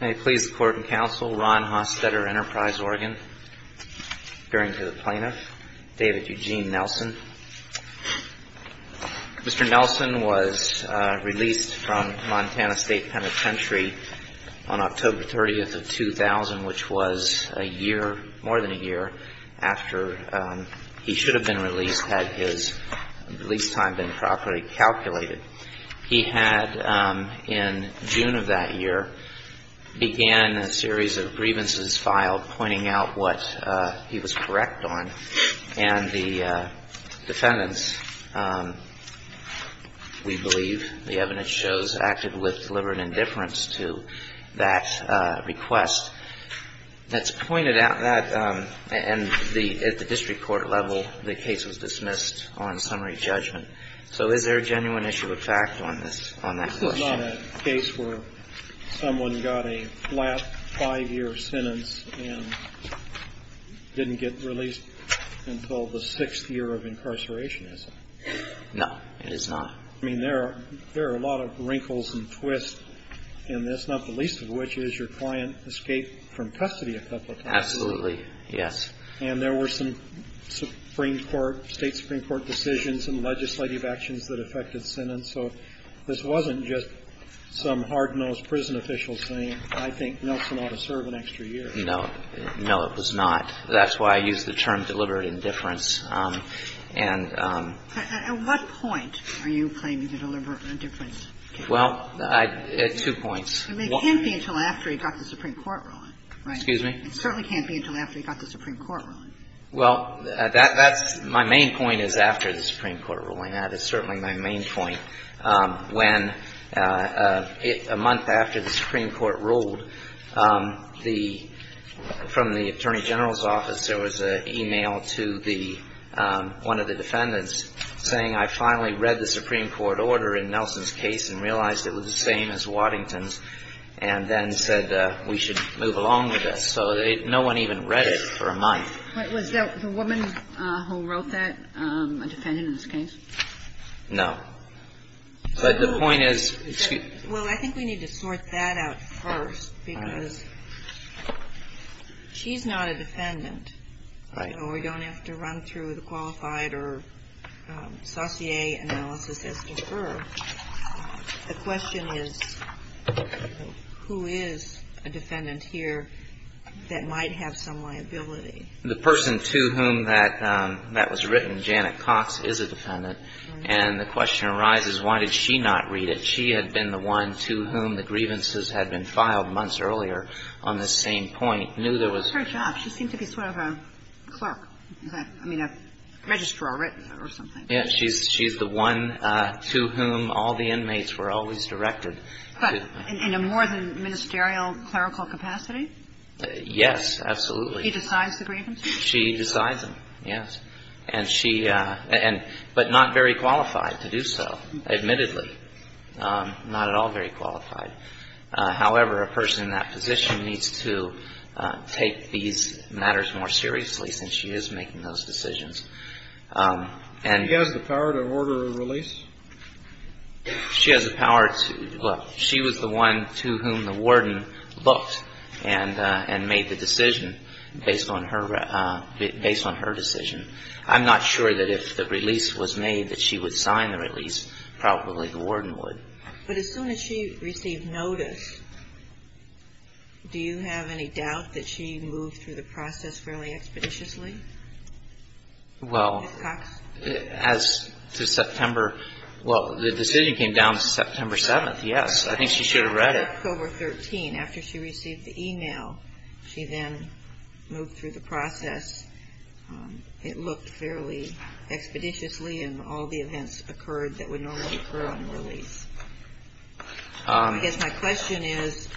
May it please the Court and Counsel, Ron Hostetter, Enterprise, Oregon. Appearing to the Plaintiff, David Eugene Nelson. Mr. Nelson was released from Montana State Penitentiary on October 30th of 2000, which was a year, more than a year, after he should have been released, had his release time been properly calculated. He had, in June of that year, began a series of grievances filed pointing out what he was correct on, and the defendants, we believe, the evidence shows, acted with deliberate indifference to that request. That's pointed out that, and at the district court level, the case was dismissed on summary judgment. So is there a genuine issue of fact on this, on that question? It's not a case where someone got a flat five-year sentence and didn't get released until the sixth year of incarceration, is it? No, it is not. I mean, there are a lot of wrinkles and twists in this, not the least of which is your client escaped from custody a couple of times. Absolutely, yes. And there were some Supreme Court, State Supreme Court decisions and legislative actions that affected sentence. So this wasn't just some hard-nosed prison official saying, I think Nelson ought to serve an extra year. No. No, it was not. That's why I used the term deliberate indifference. At what point are you claiming the deliberate indifference case? Well, two points. It can't be until after he got the Supreme Court ruling, right? Excuse me? It certainly can't be until after he got the Supreme Court ruling. Well, that's my main point is after the Supreme Court ruling. That is certainly my main point. Was there a woman who wrote that, a defendant in this case? No, but the point is, excuse me. Well, I think we need to sort that out first because she's not a defendant. Right. And we don't have to run through the qualified or saussure analysis as to her. The question is, who is a defendant here that might have some liability? The person to whom that was written, Janet Cox, is a defendant. And the question arises, why did she not read it? She had been the one to whom the grievances had been filed months earlier on this same point, knew there was It's her job. She seemed to be sort of a clerk, I mean, a registrar or something. Yes, she's the one to whom all the inmates were always directed. But in a more than ministerial clerical capacity? Yes, absolutely. She decides the grievances? She decides them, yes. And she – but not very qualified to do so, admittedly. Not at all very qualified. However, a person in that position needs to take these matters more seriously since she is making those decisions. She has the power to order a release? She has the power to – well, she was the one to whom the warden looked and made the decision based on her decision. I'm not sure that if the release was made that she would sign the release. Probably the warden would. But as soon as she received notice, do you have any doubt that she moved through the process fairly expeditiously? Well, as to September – well, the decision came down to September 7th, yes. I think she should have read it. October 13, after she received the email, she then moved through the process. It looked fairly expeditiously, and all the events occurred that would normally occur on release. I guess my question is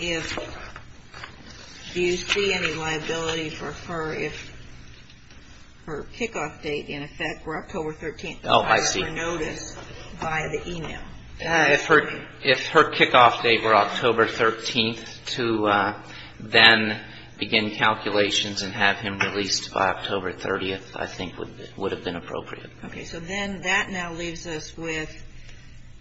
if – do you see any liability for her if her kickoff date, in effect, were October 13th? Oh, I see. Her notice by the email. If her kickoff date were October 13th to then begin calculations and have him released by October 30th, I think it would have been appropriate. Okay. So then that now leaves us with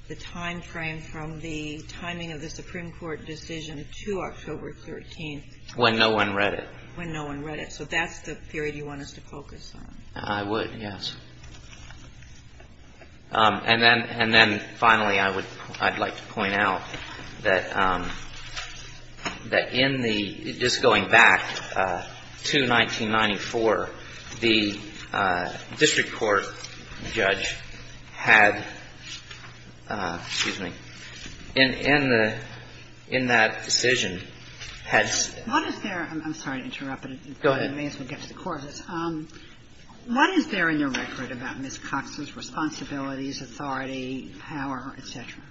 the timeframe from the timing of the Supreme Court decision to October 13th. When no one read it. When no one read it. So that's the period you want us to focus on. I would, yes. And then finally, I would – I'd like to point out that in the – just going back to 1994, the district court judge had – excuse me – in the – in that decision had – What is there – I'm sorry to interrupt. Go ahead. I may as well get to the courts. What is there in your record about Ms. Cox's responsibilities, authority, power, et cetera?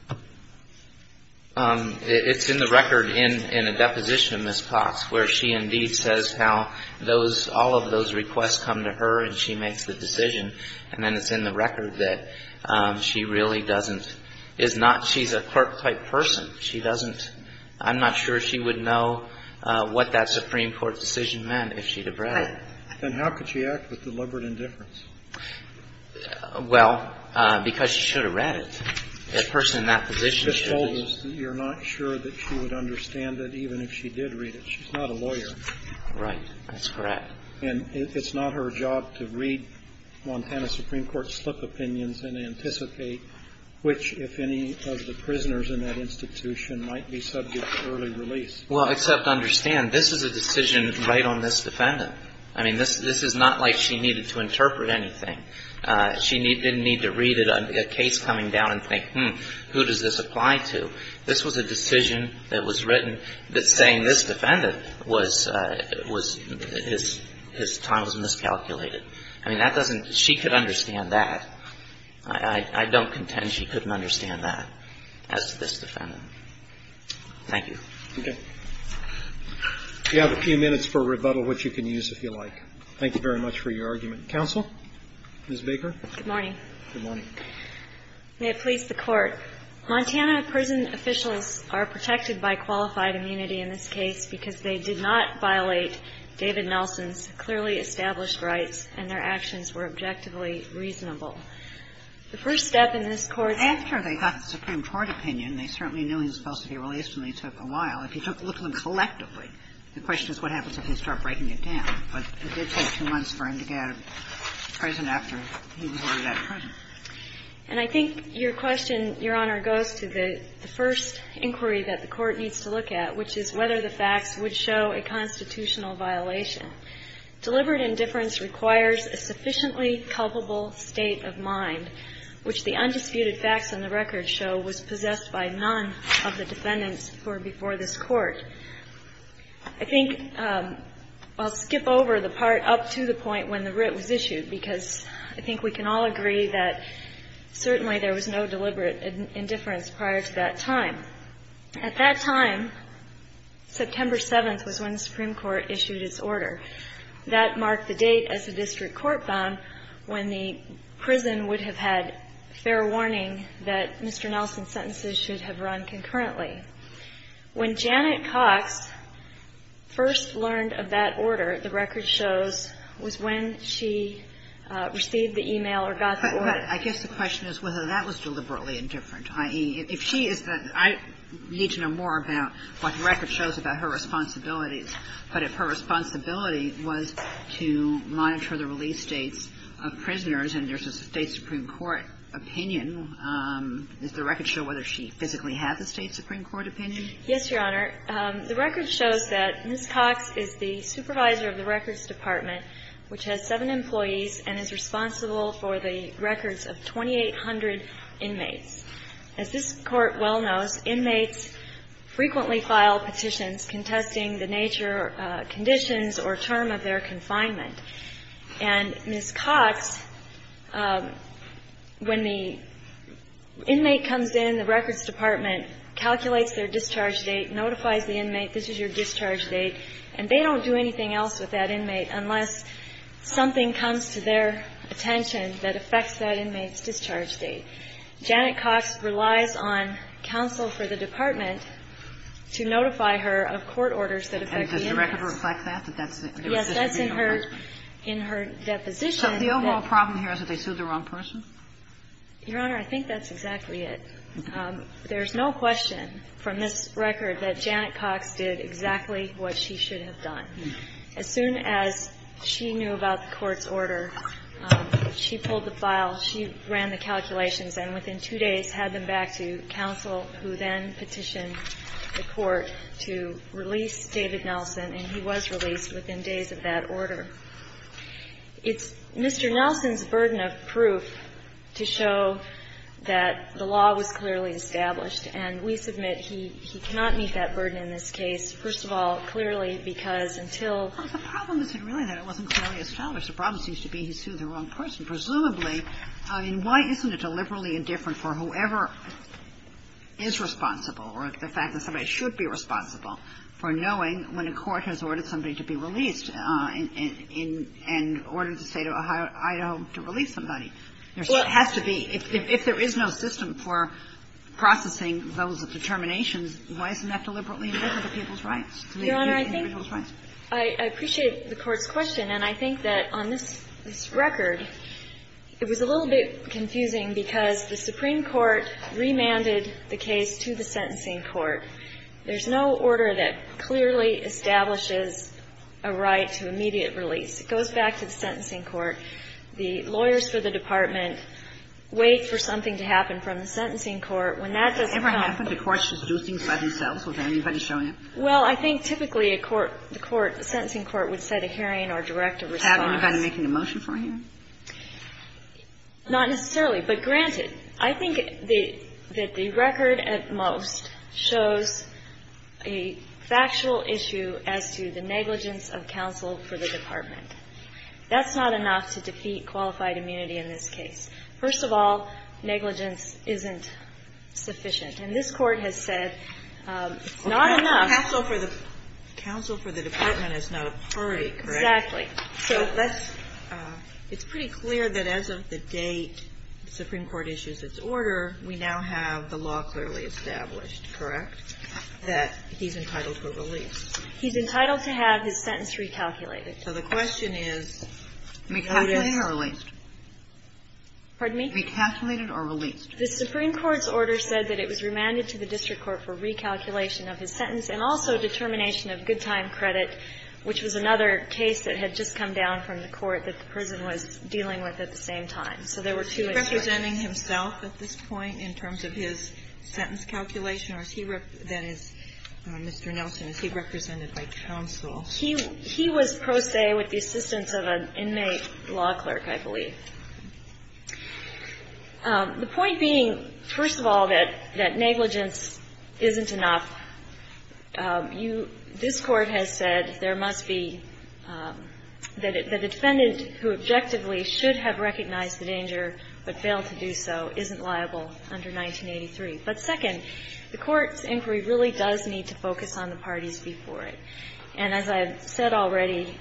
It's in the record in a deposition of Ms. Cox where she indeed says how those – all of those requests come to her and she makes the decision. And then it's in the record that she really doesn't – is not – she's a clerk-type person. She doesn't – I'm not sure she would know what that Supreme Court decision meant if she'd have read it. And how could she act with deliberate indifference? Well, because she should have read it. A person in that position should read it. She just told us that you're not sure that she would understand it even if she did read it. She's not a lawyer. Right. That's correct. And it's not her job to read Montana Supreme Court slip opinions and anticipate which, if any, of the prisoners in that institution might be subject to early release. Well, except understand, this is a decision right on this defendant. I mean, this is not like she needed to interpret anything. She didn't need to read a case coming down and think, hmm, who does this apply to? This was a decision that was written that saying this defendant was – his time was miscalculated. I mean, that doesn't – she could understand that. I don't contend she couldn't understand that as this defendant. Thank you. Okay. We have a few minutes for rebuttal, which you can use if you like. Thank you very much for your argument. Counsel? Ms. Baker? Good morning. Good morning. May it please the Court. Montana prison officials are protected by qualified immunity in this case because they did not violate David Nelson's clearly established rights and their actions were objectively reasonable. The first step in this court's – After they got the Supreme Court opinion, they certainly knew he was supposed to be released, and they took a while. If you took a look at them collectively, the question is what happens if they start breaking it down. But it did take two months for him to get out of prison after he was already out of prison. And I think your question, Your Honor, goes to the first inquiry that the Court needs to look at, which is whether the facts would show a constitutional violation. Deliberate indifference requires a sufficiently culpable state of mind, which the undisputed facts on the record show was possessed by none of the defendants before this Court. I think I'll skip over the part up to the point when the writ was issued, because I think we can all agree that certainly there was no deliberate indifference prior to that time. At that time, September 7th was when the Supreme Court issued its order. That marked the date as a district court found when the prison would have had fair warning that Mr. Nelson's sentences should have run concurrently. When Janet Cox first learned of that order, the record shows, was when she received the e-mail or got the order. But I guess the question is whether that was deliberately indifferent, i.e., if she is the – I need to know more about what the record shows about her responsibilities. But if her responsibility was to monitor the release dates of prisoners and there's a State Supreme Court opinion, does the record show whether she physically had the State Supreme Court opinion? Yes, Your Honor. The record shows that Ms. Cox is the supervisor of the Records Department, which has seven employees and is responsible for the records of 2,800 inmates. As this Court well knows, inmates frequently file petitions contesting the nature or conditions or term of their confinement. And Ms. Cox, when the inmate comes in, the Records Department calculates their discharge date, notifies the inmate, this is your discharge date, and they don't do anything else with that inmate unless something comes to their attention that affects that inmate's discharge date. Janet Cox relies on counsel for the Department to notify her of court orders that affect the inmates. And does the record reflect that? That that's the – there was a State Supreme Court judgment? Yes, that's in her – in her deposition. So the overall problem here is that they sued the wrong person? Your Honor, I think that's exactly it. There's no question from this record that Janet Cox did exactly what she should have done. As soon as she knew about the Court's order, she pulled the file, she ran the calculations, and within two days had them back to counsel, who then petitioned the Court to release David Nelson, and he was released within days of that order. It's Mr. Nelson's burden of proof to show that the law was clearly established, and we submit he cannot meet that burden in this case, first of all, clearly because until – Well, the problem isn't really that it wasn't clearly established. The problem seems to be he sued the wrong person. Presumably, I mean, why isn't it deliberately indifferent for whoever is responsible or the fact that somebody should be responsible for knowing when a court has ordered somebody to be released and ordered the State of Idaho to release somebody? There has to be – if there is no system for processing those determinations, why isn't that deliberately indifferent to people's rights? Your Honor, I think – I appreciate the Court's question, and I think that on this record, it was a little bit confusing because the Supreme Court remanded the case to the sentencing court. There's no order that clearly establishes a right to immediate release. It goes back to the sentencing court. The lawyers for the department wait for something to happen from the sentencing court. When that doesn't come – Have you ever had the courts just do things by themselves? Was there anybody showing up? Well, I think typically a court – the court – the sentencing court would set a hearing or direct a response. Have anybody making a motion for him? Not necessarily, but granted. I think that the record at most shows a factual issue as to the negligence of counsel for the department. That's not enough to defeat qualified immunity in this case. First of all, negligence isn't sufficient. And this Court has said it's not enough. Counsel for the department is not a party, correct? Exactly. So let's – It's pretty clear that as of the date the Supreme Court issues its order, we now have the law clearly established, correct, that he's entitled for release. He's entitled to have his sentence recalculated. So the question is – Recalculated or released? Pardon me? Recalculated or released? The Supreme Court's order said that it was remanded to the district court for recalculation of his sentence and also determination of good time credit, which was another case that had just come down from the court that the prison was dealing with at the same time. So there were two issues. Is he representing himself at this point in terms of his sentence calculation, or is he – then is Mr. Nelson, is he represented by counsel? He was pro se with the assistance of an inmate law clerk, I believe. The point being, first of all, that negligence isn't enough. You – this Court has said there must be – that the defendant who objectively should have recognized the danger but failed to do so isn't liable under 1983. But second, the Court's inquiry really does need to focus on the parties before it. And as I've said already,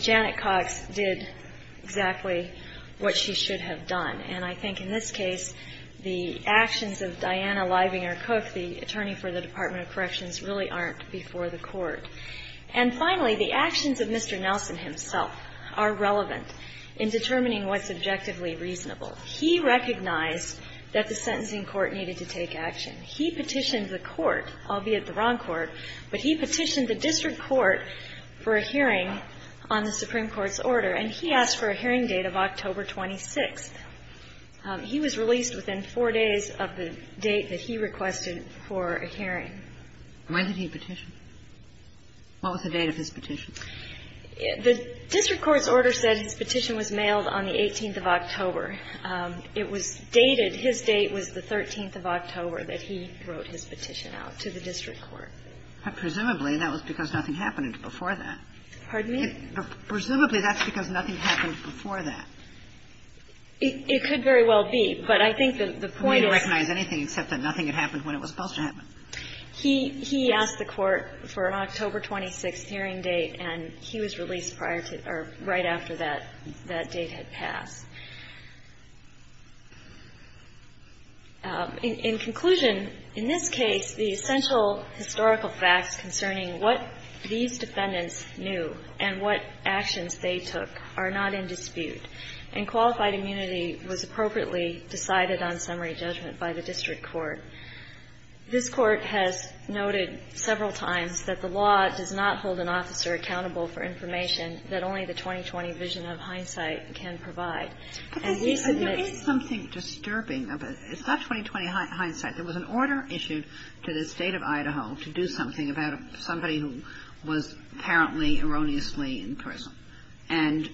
Janet Cox did exactly what she should have done. And I think in this case, the actions of Diana Leibinger Cook, the attorney for the Department of Corrections, really aren't before the Court. And finally, the actions of Mr. Nelson himself are relevant in determining what's objectively reasonable. He recognized that the sentencing court needed to take action. He petitioned the court, albeit the wrong court, but he petitioned the district court for a hearing on the Supreme Court's order. And he asked for a hearing date of October 26th. He was released within four days of the date that he requested for a hearing. When did he petition? What was the date of his petition? The district court's order said his petition was mailed on the 18th of October. It was dated, his date was the 13th of October that he wrote his petition out to the district court. But presumably, that was because nothing happened before that. Pardon me? Presumably, that's because nothing happened before that. It could very well be. But I think that the point is that he asked the court for an October 26th hearing date, and he was released prior to or right after that, that date had passed. In conclusion, in this case, the essential historical facts concerning what these defendants knew and what actions they took are not in dispute. And qualified immunity was appropriately decided on summary judgment by the district court. This court has noted several times that the law does not hold an officer accountable for information that only the 2020 vision of hindsight can provide. Because there is something disturbing about it. It's not 2020 hindsight. There was an order issued to the State of Idaho to do something about somebody who was apparently erroneously in prison. And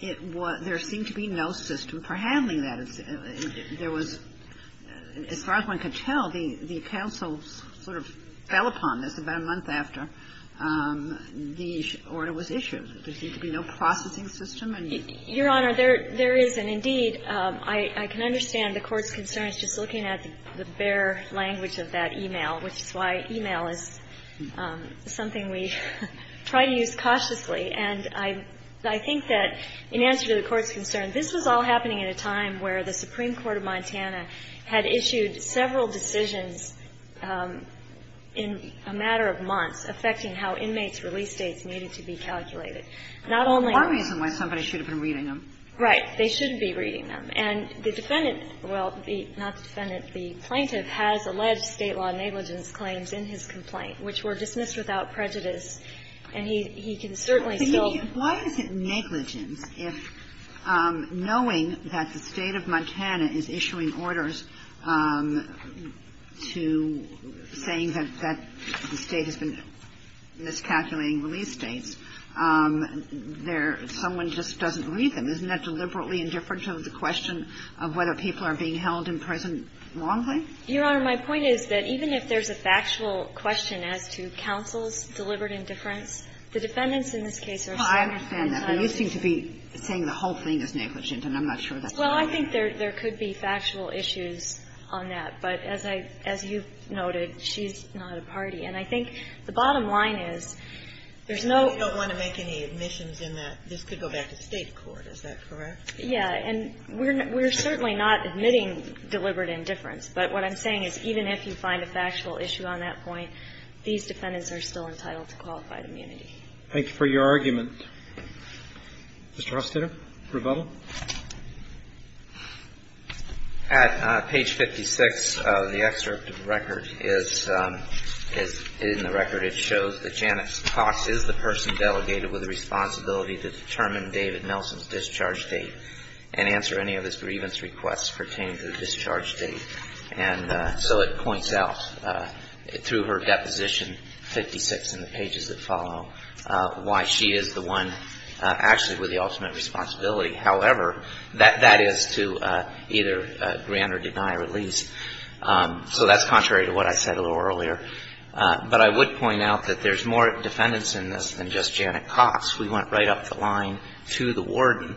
it was – there seemed to be no system for handling that. There was – as far as one could tell, the counsel sort of fell upon this about a month after the order was issued. There seemed to be no processing system. Your Honor, there is, and indeed, I can understand the Court's concerns just looking at the bare language of that e-mail, which is why e-mail is something we try to use cautiously. And I think that in answer to the Court's concern, this was all happening at a time where the Supreme Court of Montana had issued several decisions in a matter of months affecting how inmates' release dates needed to be calculated. Not only – One reason why somebody should have been reading them. Right. They shouldn't be reading them. And the defendant – well, not the defendant. The plaintiff has alleged State law negligence claims in his complaint, which were dismissed without prejudice. And he can certainly still – Why is it negligence if, knowing that the State of Montana is issuing orders to saying that the State has been miscalculating release dates, there – someone just doesn't read them? Isn't that deliberately indifferent to the question of whether people are being held in prison wrongfully? Your Honor, my point is that even if there's a factual question as to counsel's deliberate indifference, the defendants in this case are saying – Well, I understand that. But you seem to be saying the whole thing is negligent, and I'm not sure that's Well, I think there could be factual issues on that. But as I – as you've noted, she's not a party. And I think the bottom line is there's no – You don't want to make any admissions in that. This could go back to the State court. Is that correct? Yeah. And we're – we're certainly not admitting deliberate indifference. But what I'm saying is even if you find a factual issue on that point, these defendants are still entitled to qualified immunity. Thank you for your argument. Mr. Hostetter, rebuttal. At page 56 of the excerpt of the record is – in the record it shows that Janet Cox is the person delegated with the responsibility to determine David Nelson's discharge date and answer any of his grievance requests pertaining to the discharge date. And so it points out through her deposition, 56 in the pages that follow, why she is the one actually with the ultimate responsibility. However, that is to either grant or deny release. So that's contrary to what I said a little earlier. But I would point out that there's more defendants in this than just Janet Cox. We went right up the line to the warden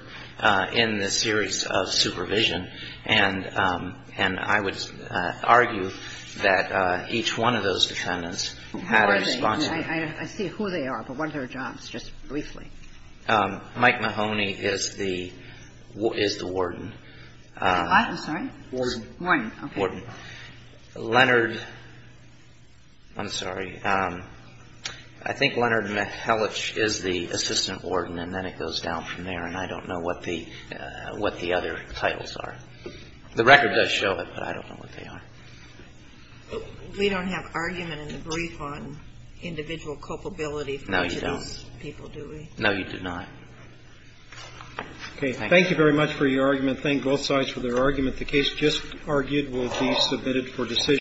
in the series of supervision. And I would argue that each one of those defendants had a responsibility. Who are they? I see who they are, but what are their jobs, just briefly? Mike Mahoney is the warden. I'm sorry? Warden. Warden. Okay. Leonard – I'm sorry. I think Leonard Mihelich is the assistant warden, and then it goes down from there, and I don't know what the other titles are. The record does show it, but I don't know what they are. We don't have argument in the brief on individual culpability for these people, do we? No, you do not. Okay. Thank you very much for your argument. Thank both sides for their argument. The case just argued will be submitted for decision.